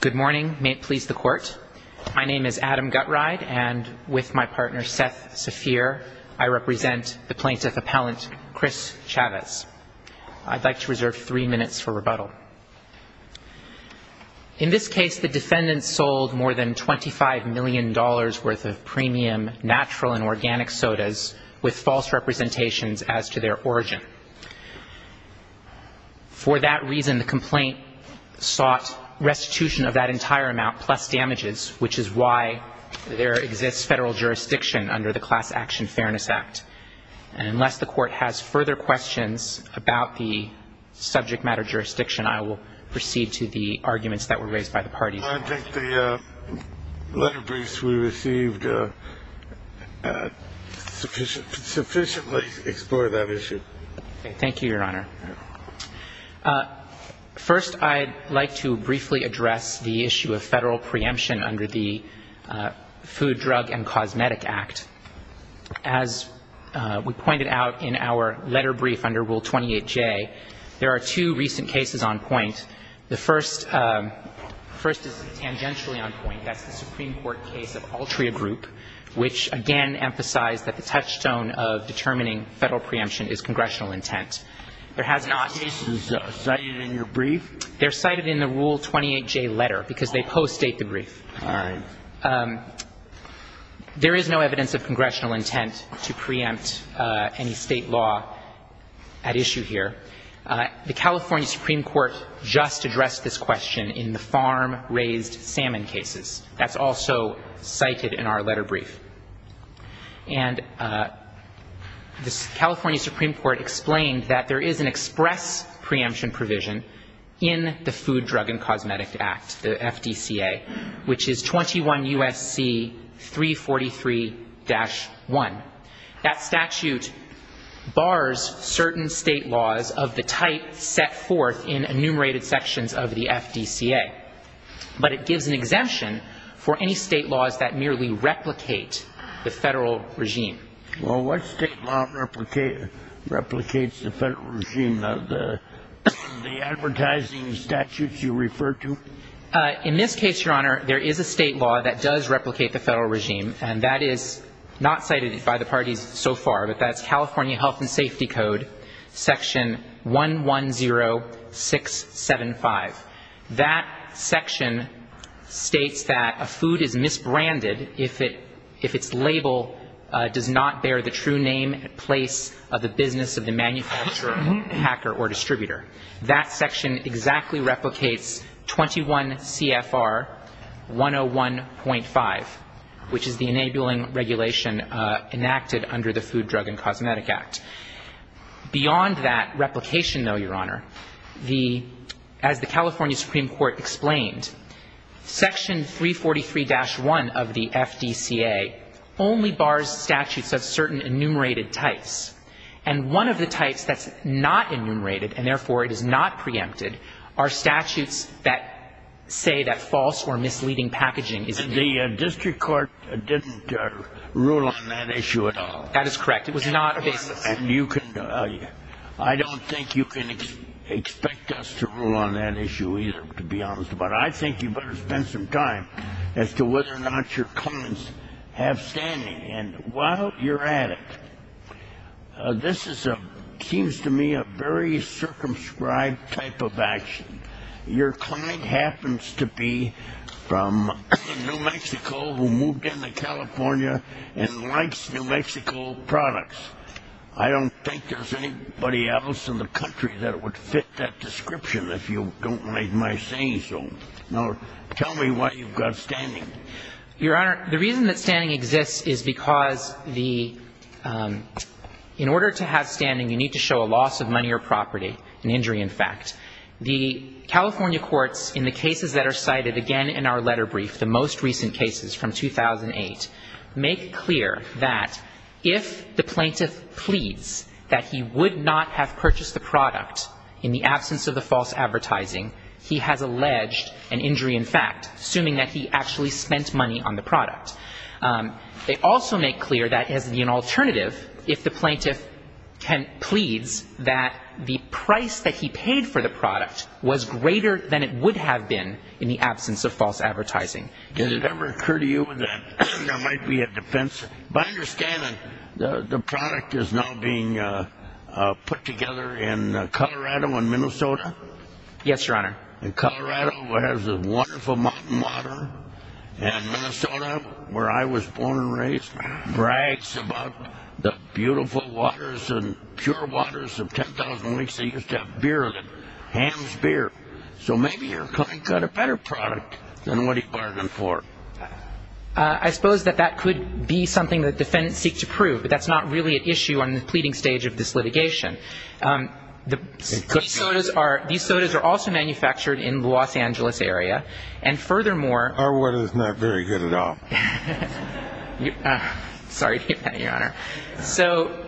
Good morning, may it please the court. My name is Adam Gutride and with my partner Seth Saphir, I represent the plaintiff appellant Chris Chavez. I'd like to reserve three minutes for rebuttal. In this case, the defendants sold more than $25 million worth of premium natural and organic sodas with false representations as to their origin. For that reason, the complaint sought restitution of that entire amount plus damages, which is why there exists federal jurisdiction under the Class Action Fairness Act. And unless the court has further questions about the subject matter jurisdiction, I will proceed to the arguments that were raised by the parties. I think the letter briefs we received sufficiently explore that issue. Thank you, Your Honor. First, I'd like to briefly address the issue of federal preemption under the Food, Drug, and Cosmetic Act. As we pointed out in our letter brief under Rule 28J, there are two recent cases on point. The first is tangentially on point. That's the Supreme Court case of Altria Group, which, again, emphasized that the touchstone of determining federal preemption is congressional intent. There has not been a case cited in your brief? They're cited in the Rule 28J letter because they post-state the brief. All right. There is no evidence of congressional intent to preempt any State law at issue here. The California Supreme Court just addressed this question in the farm-raised salmon cases. That's also cited in our letter brief. And the California Supreme Court explained that there is an express preemption provision in the Food, Drug, and Cosmetic Act, the FDCA, which is 21 U.S.C. 343-1. That statute bars certain State laws of the type set forth in enumerated sections of the FDCA. But it gives an exemption for any State laws that merely replicate the federal regime. Well, what State law replicates the federal regime? The advertising statutes you refer to? In this case, Your Honor, there is a State law that does replicate the federal regime, and that is not cited by the parties so far. But that's California Health and Safety Code, Section 110-675. That section states that a food is misbranded if its label does not bear the true name and place of the business of the manufacturer, hacker, or distributor. That section exactly replicates 21 CFR 101.5, which is the enabling regulation enacted under the Food, Drug, and Cosmetic Act. Beyond that replication, though, Your Honor, the — as the California Supreme Court explained, Section 343-1 of the FDCA only bars statutes that have certain enumerated types. And one of the types that's not enumerated, and therefore it is not preempted, are statutes that say that false or misleading packaging is in there. The district court didn't rule on that issue at all. That is correct. It was not a basis. And you can — I don't think you can expect us to rule on that issue either, to be honest. But I think you better spend some time as to whether or not your comments have standing. And while you're at it, this is a — seems to me a very circumscribed type of action. Your client happens to be from New Mexico who moved into California and likes New Mexico products. I don't think there's anybody else in the country that would fit that description, if you don't mind my saying so. Now, tell me why you've got standing. Your Honor, the reason that standing exists is because the — in order to have standing, you need to show a loss of money or property, an injury in fact. The California courts, in the cases that are cited again in our letter brief, the most recent cases from 2008, make clear that if the plaintiff pleads that he would not have purchased the product in the absence of the false advertising, he has alleged an injury in fact, assuming that he actually spent money on the product. They also make clear that as an alternative, if the plaintiff pleads that the price that he paid for the product was greater than it would have been in the absence of false advertising. Did it ever occur to you that there might be a defense? By understanding, the product is now being put together in Colorado and Minnesota. Yes, Your Honor. And Colorado has a wonderful mountain water, and Minnesota, where I was born and raised, brags about the beautiful waters and pure waters of 10,000 lakes. They used to have beer of it, ham's beer. So maybe your client got a better product than what he bargained for. I suppose that that could be something that defendants seek to prove, but that's not really an issue on the pleading stage of this litigation. These sodas are also manufactured in the Los Angeles area, and furthermore. Our water is not very good at all. Sorry to hear that, Your Honor. So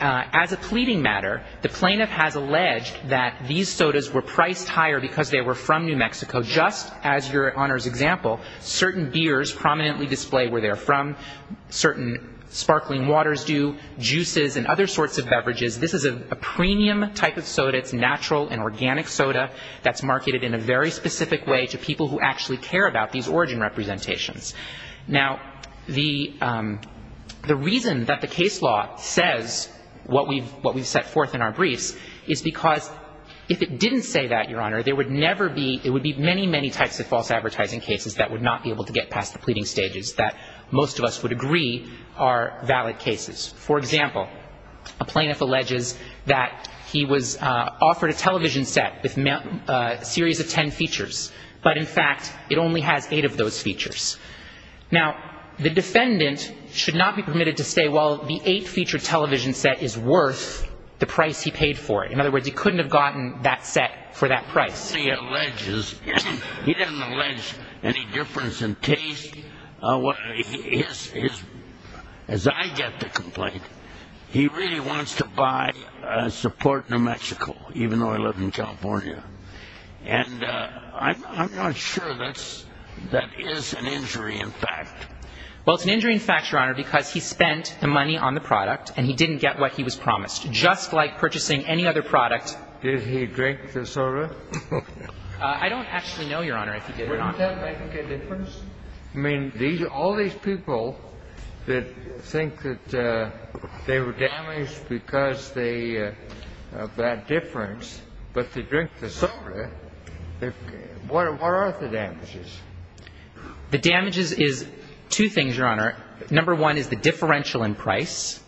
as a pleading matter, the plaintiff has alleged that these sodas were priced higher because they were from New Mexico, just as Your Honor's example. Certain beers prominently display where they're from. Certain sparkling waters do. Juices and other sorts of beverages. This is a premium type of soda. It's natural and organic soda that's marketed in a very specific way to people who actually care about these origin representations. Now, the reason that the case law says what we've set forth in our briefs is because if it didn't say that, Your Honor, there would never be, there would be many, many types of false advertising cases that would not be able to get past the pleading stages that most of us would agree are valid cases. For example, a plaintiff alleges that he was offered a television set with a series of ten features, but in fact, it only has eight of those features. Now, the defendant should not be permitted to say, well, the eight-feature television set is worth the price he paid for it. In other words, he couldn't have gotten that set for that price. He doesn't allege any difference in taste. As I get the complaint, he really wants to buy a support New Mexico, even though I live in California. And I'm not sure that is an injury in fact. Well, it's an injury in fact, Your Honor, because he spent the money on the product and he didn't get what he was promised, just like purchasing any other product. Did he drink the soda? I don't actually know, Your Honor, if he did, Your Honor. Wouldn't that make a difference? I mean, all these people that think that they were damaged because of that difference, but they drink the soda, what are the damages? The damages is two things, Your Honor. Number one is the differential in price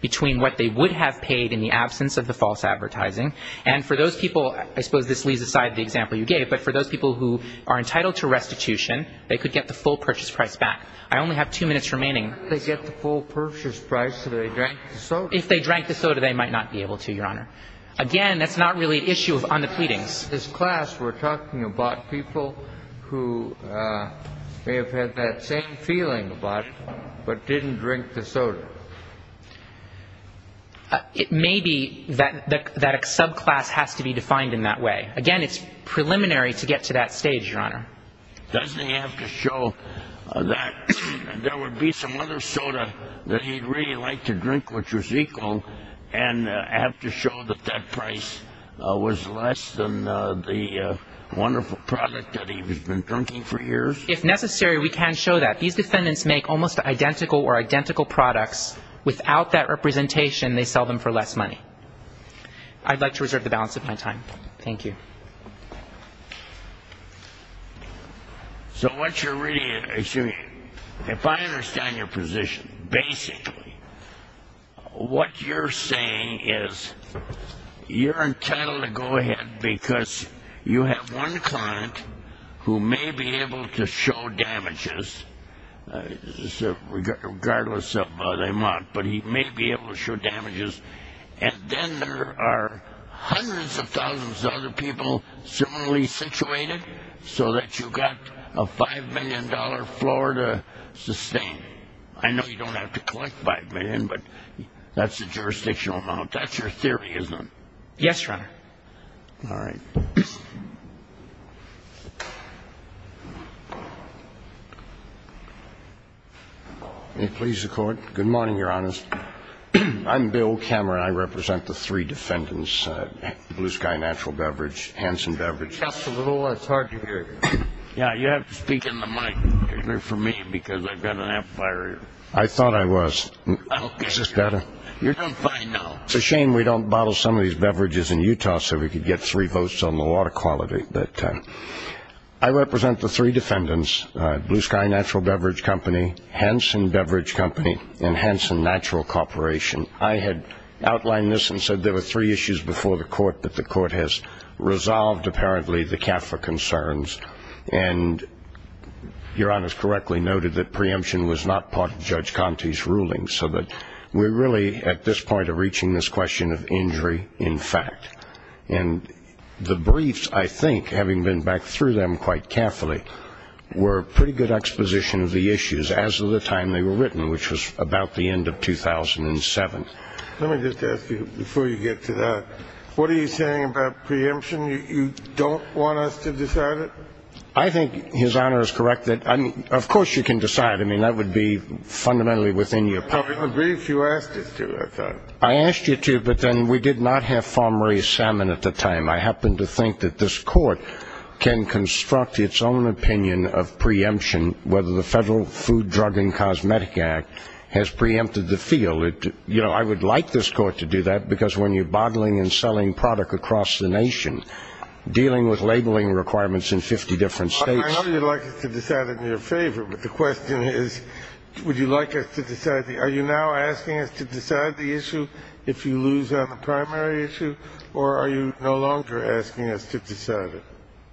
between what they would have paid in the absence of the false advertising. And for those people, I suppose this leaves aside the example you gave, but for those people who are entitled to restitution, they could get the full purchase price back. I only have two minutes remaining. If they get the full purchase price, do they drink the soda? If they drank the soda, they might not be able to, Your Honor. Again, that's not really an issue on the pleadings. This class, we're talking about people who may have had that same feeling about it, but didn't drink the soda. It may be that a subclass has to be defined in that way. Again, it's preliminary to get to that stage, Your Honor. Doesn't he have to show that there would be some other soda that he'd really like to drink, which was equal, and have to show that that price was less than the wonderful product that he's been drinking for years? If necessary, we can show that. These defendants make almost identical or identical products. Without that representation, they sell them for less money. I'd like to reserve the balance of my time. Thank you. So what you're really assuming, if I understand your position, basically what you're saying is you're entitled to go ahead because you have one client who may be able to show damages, regardless of whether or not, but he may be able to show damages, and then there are hundreds of thousands of other people similarly situated so that you've got a $5 million floor to sustain. I know you don't have to collect $5 million, but that's a jurisdictional amount. That's your theory, isn't it? Yes, Your Honor. All right. May it please the Court. Good morning, Your Honors. I'm Bill Cameron. I represent the three defendants, Blue Sky Natural Beverage, Hanson Beverage. Just a little. It's hard to hear you. Yeah, you have to speak in the mic for me because I've got an amplifier here. I thought I was. Is this better? You're doing fine now. It's a shame we don't bottle some of these beverages in Utah so we could get three votes on the water quality, but I represent the three defendants, Blue Sky Natural Beverage Company, Hanson Beverage Company, and Hanson Natural Corporation. I had outlined this and said there were three issues before the Court, but the Court has resolved, apparently, the CAFRA concerns, and Your Honor has correctly noted that preemption was not part of Judge Conte's ruling so that we're really at this point of reaching this question of injury in fact. And the briefs, I think, having been back through them quite carefully, were a pretty good exposition of the issues as of the time they were written, which was about the end of 2007. Let me just ask you, before you get to that, what are you saying about preemption? You don't want us to decide it? I think His Honor is correct. Of course you can decide. I mean, that would be fundamentally within your public interest. The brief you asked us to, I thought. I asked you to, but then we did not have farm-raised salmon at the time. I happen to think that this Court can construct its own opinion of preemption, whether the Federal Food, Drug, and Cosmetic Act has preempted the field. You know, I would like this Court to do that, because when you're bottling and selling product across the nation, dealing with labeling requirements in 50 different states. I know you'd like us to decide it in your favor, but the question is, would you like us to decide it? Are you now asking us to decide the issue if you lose on the primary issue, or are you no longer asking us to decide it?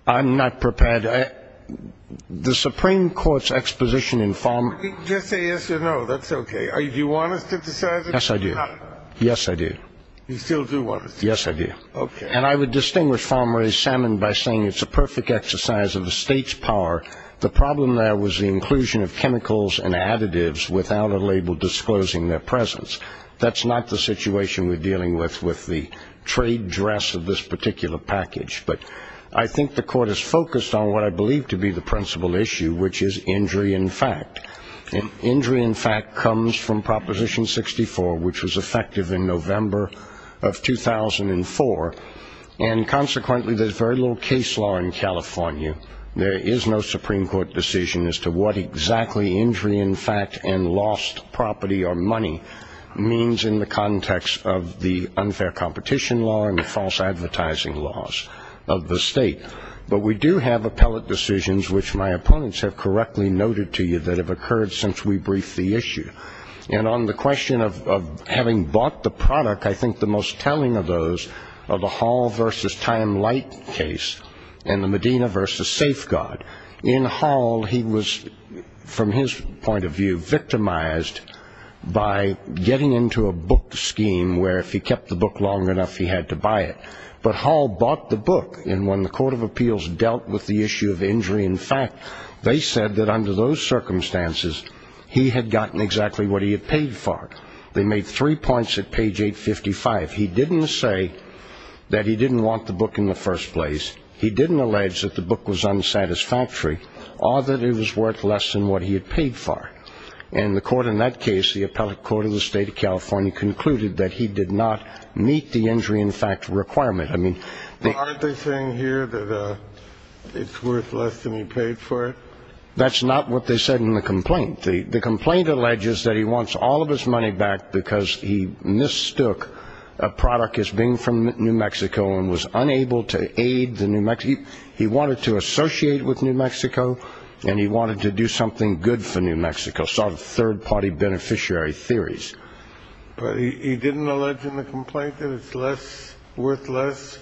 I'm not prepared. The Supreme Court's exposition in farm- Just say yes or no. That's okay. Do you want us to decide it? Yes, I do. Yes, I do. You still do want us to? Yes, I do. Okay. And I would distinguish farm-raised salmon by saying it's a perfect exercise of the state's power. The problem there was the inclusion of chemicals and additives without a label disclosing their presence. That's not the situation we're dealing with with the trade dress of this particular package. But I think the Court is focused on what I believe to be the principal issue, which is injury in fact. Injury in fact comes from Proposition 64, which was effective in November of 2004, and consequently there's very little case law in California. There is no Supreme Court decision as to what exactly injury in fact and lost property or money means in the context of the unfair competition law and the false advertising laws of the state. But we do have appellate decisions, which my opponents have correctly noted to you, that have occurred since we briefed the issue. And on the question of having bought the product, I think the most telling of those are the Hall v. Time-Light case and the Medina v. Safeguard. In Hall, he was, from his point of view, victimized by getting into a book scheme where if he kept the book long enough he had to buy it. But Hall bought the book, and when the Court of Appeals dealt with the issue of injury in fact, they said that under those circumstances he had gotten exactly what he had paid for. They made three points at page 855. He didn't say that he didn't want the book in the first place. He didn't allege that the book was unsatisfactory or that it was worth less than what he had paid for. And the Court in that case, the Appellate Court of the State of California, concluded that he did not meet the injury in fact requirement. Aren't they saying here that it's worth less than he paid for it? That's not what they said in the complaint. The complaint alleges that he wants all of his money back because he mistook a product as being from New Mexico and was unable to aid the New Mexico. He wanted to associate with New Mexico, and he wanted to do something good for New Mexico, sort of third-party beneficiary theories. But he didn't allege in the complaint that it's worth less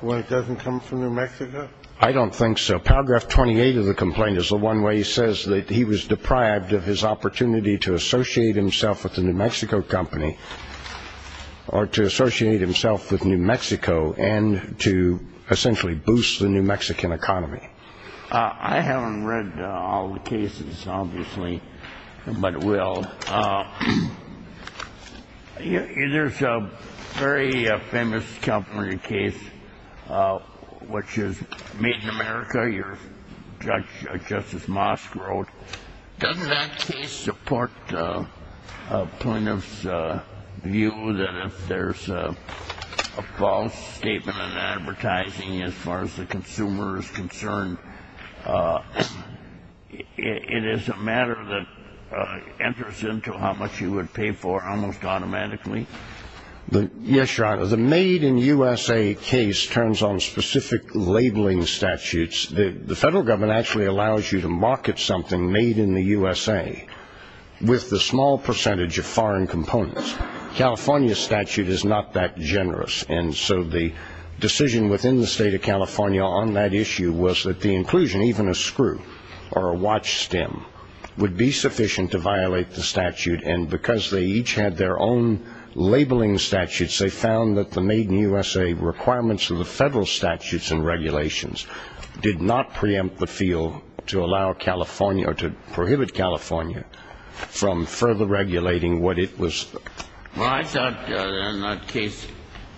when it doesn't come from New Mexico? I don't think so. Paragraph 28 of the complaint is the one where he says that he was deprived of his opportunity to associate himself with the New Mexico company or to associate himself with New Mexico and to essentially boost the New Mexican economy. I haven't read all the cases, obviously, but will. There's a very famous California case, which is Made in America. Justice Mosk wrote, doesn't that case support a plaintiff's view that if there's a false statement in advertising as far as the consumer is concerned, it is a matter that enters into how much you would pay for almost automatically? Yes, Your Honor. The Made in USA case turns on specific labeling statutes. The federal government actually allows you to market something made in the USA with the small percentage of foreign components. California's statute is not that generous, and so the decision within the state of California on that issue was that the inclusion, even a screw or a watch stem, would be sufficient to violate the statute, and because they each had their own labeling statutes, they found that the Made in USA requirements of the federal statutes and regulations did not preempt the field to allow California or to prohibit California from further regulating what it was. Well, I thought in that case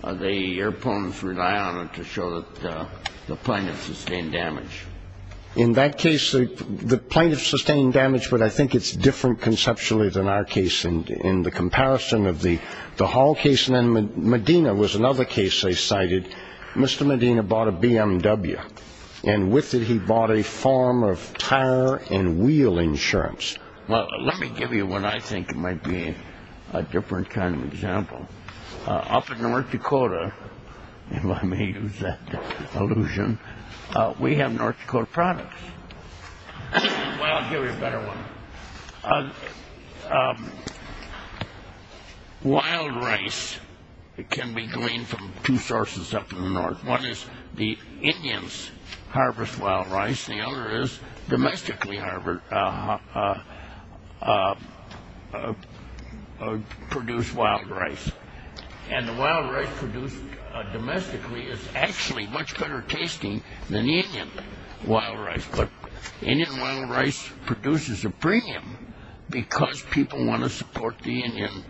the opponents relied on it to show that the plaintiff sustained damage. In that case, the plaintiff sustained damage, but I think it's different conceptually than our case in the comparison of the Hall case. And then Medina was another case they cited. Mr. Medina bought a BMW, and with it he bought a form of tire and wheel insurance. Well, let me give you what I think might be a different kind of example. Up in North Dakota, if I may use that allusion, we have North Dakota products. Well, I'll give you a better one. Wild rice can be gleaned from two sources up in the north. One is the Indians harvest wild rice. The other is domestically produced wild rice. And the wild rice produced domestically is actually much better tasting than the Indian wild rice. But Indian wild rice produces a premium because people want to support the Indians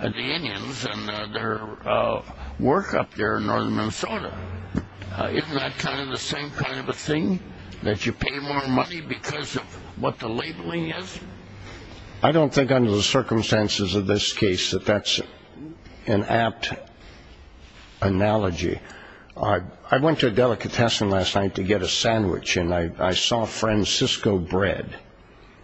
and their work up there in northern Minnesota. Isn't that kind of the same kind of a thing, that you pay more money because of what the labeling is? I don't think under the circumstances of this case that that's an apt analogy. I went to a delicatessen last night to get a sandwich, and I saw Francisco Bread,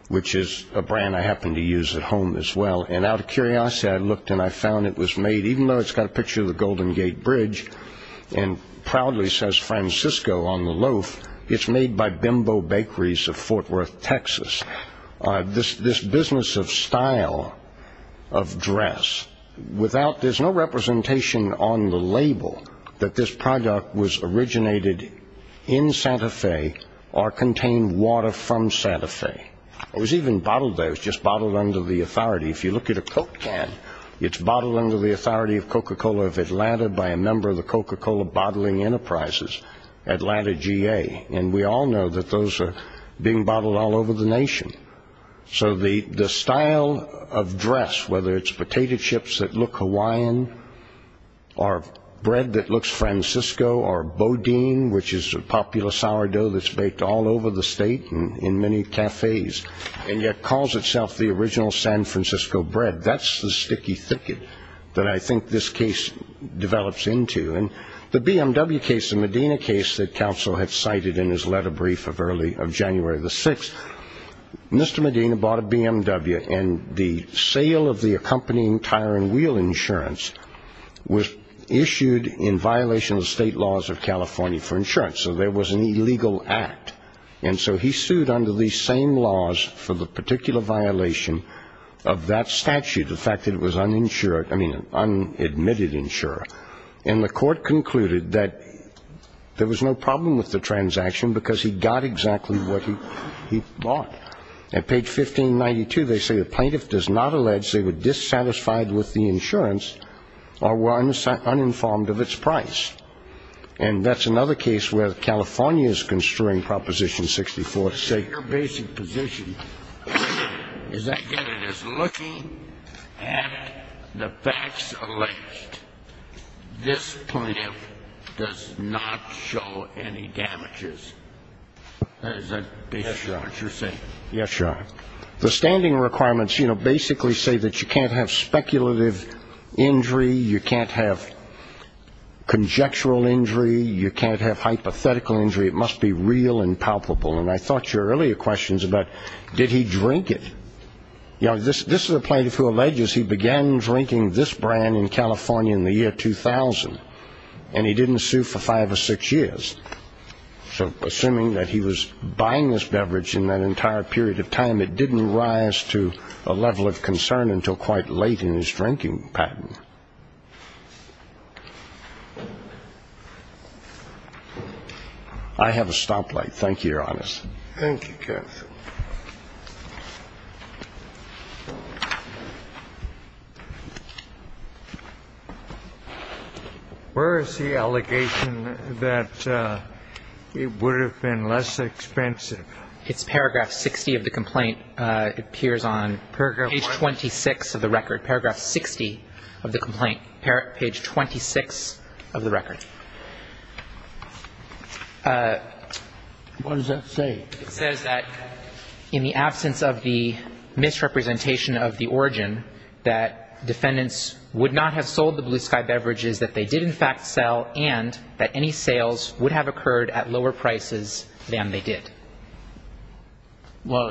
which is a brand I happen to use at home as well. And out of curiosity, I looked and I found it was made, even though it's got a picture of the Golden Gate Bridge and proudly says Francisco on the loaf, it's made by Bimbo Bakeries of Fort Worth, Texas. This business of style, of dress, there's no representation on the label that this product was originated in Santa Fe or contained water from Santa Fe. It was even bottled there. It was just bottled under the authority. If you look at a Coke can, it's bottled under the authority of Coca-Cola of Atlanta by a member of the Coca-Cola Bottling Enterprises, Atlanta GA. And we all know that those are being bottled all over the nation. So the style of dress, whether it's potato chips that look Hawaiian or bread that looks Francisco or boudin, which is a popular sourdough that's baked all over the state in many cafes, and yet calls itself the original San Francisco bread. That's the sticky thicket that I think this case develops into. And the BMW case, the Medina case that counsel had cited in his letter brief of January the 6th, Mr. Medina bought a BMW, and the sale of the accompanying tire and wheel insurance was issued in violation of the state laws of California for insurance. So there was an illegal act. And so he sued under these same laws for the particular violation of that statute, the fact that it was uninsured, I mean an unadmitted insurer. And the court concluded that there was no problem with the transaction because he got exactly what he bought. At page 1592, they say the plaintiff does not allege they were dissatisfied with the insurance or were uninformed of its price. And that's another case where California is construing Proposition 64 to say your basic position is that, again, it is looking at the facts alleged. This plaintiff does not show any damages. Is that basically what you're saying? Yes, Your Honor. The standing requirements, you know, basically say that you can't have speculative injury, you can't have conjectural injury, you can't have hypothetical injury. It must be real and palpable. And I thought your earlier questions about did he drink it, you know, this is a plaintiff who alleges he began drinking this brand in California in the year 2000, and he didn't sue for five or six years. So assuming that he was buying this beverage in that entire period of time, and it didn't rise to a level of concern until quite late in his drinking pattern. I have a stoplight. Thank you, Your Honor. Thank you, counsel. Where is the allegation that it would have been less expensive? It's paragraph 60 of the complaint. It appears on page 26 of the record, paragraph 60 of the complaint, page 26 of the record. What does that say? It says that in the absence of the misrepresentation of the origin, that defendants would not have sold the Blue Sky beverages that they did in fact sell and that any sales would have occurred at lower prices than they did. Well,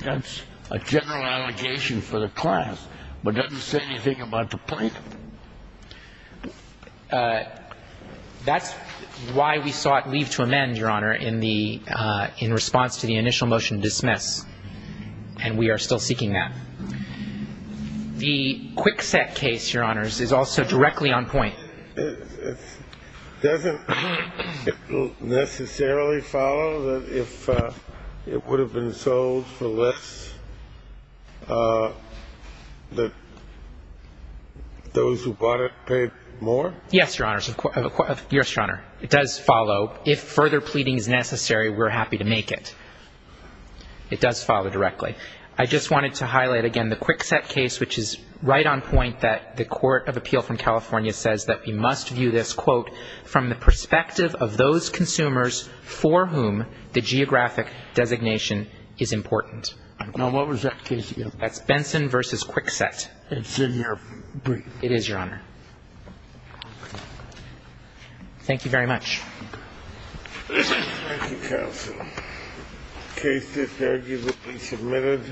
that's a general allegation for the class, but doesn't say anything about the plaintiff. That's why we sought leave to amend, Your Honor, in response to the initial motion to dismiss, and we are still seeking that. The Kwikset case, Your Honors, is also directly on point. Doesn't it necessarily follow that if it would have been sold for less that those who bought it paid more? Yes, Your Honors. Yes, Your Honor. It does follow. If further pleading is necessary, we're happy to make it. It does follow directly. I just wanted to highlight again the Kwikset case, which is right on point, that the Court of Appeal from California says that we must view this, quote, from the perspective of those consumers for whom the geographic designation is important. Now, what was that case again? That's Benson v. Kwikset. It's in your brief. It is, Your Honor. Thank you very much. Thank you, counsel. The case is arguably submitted.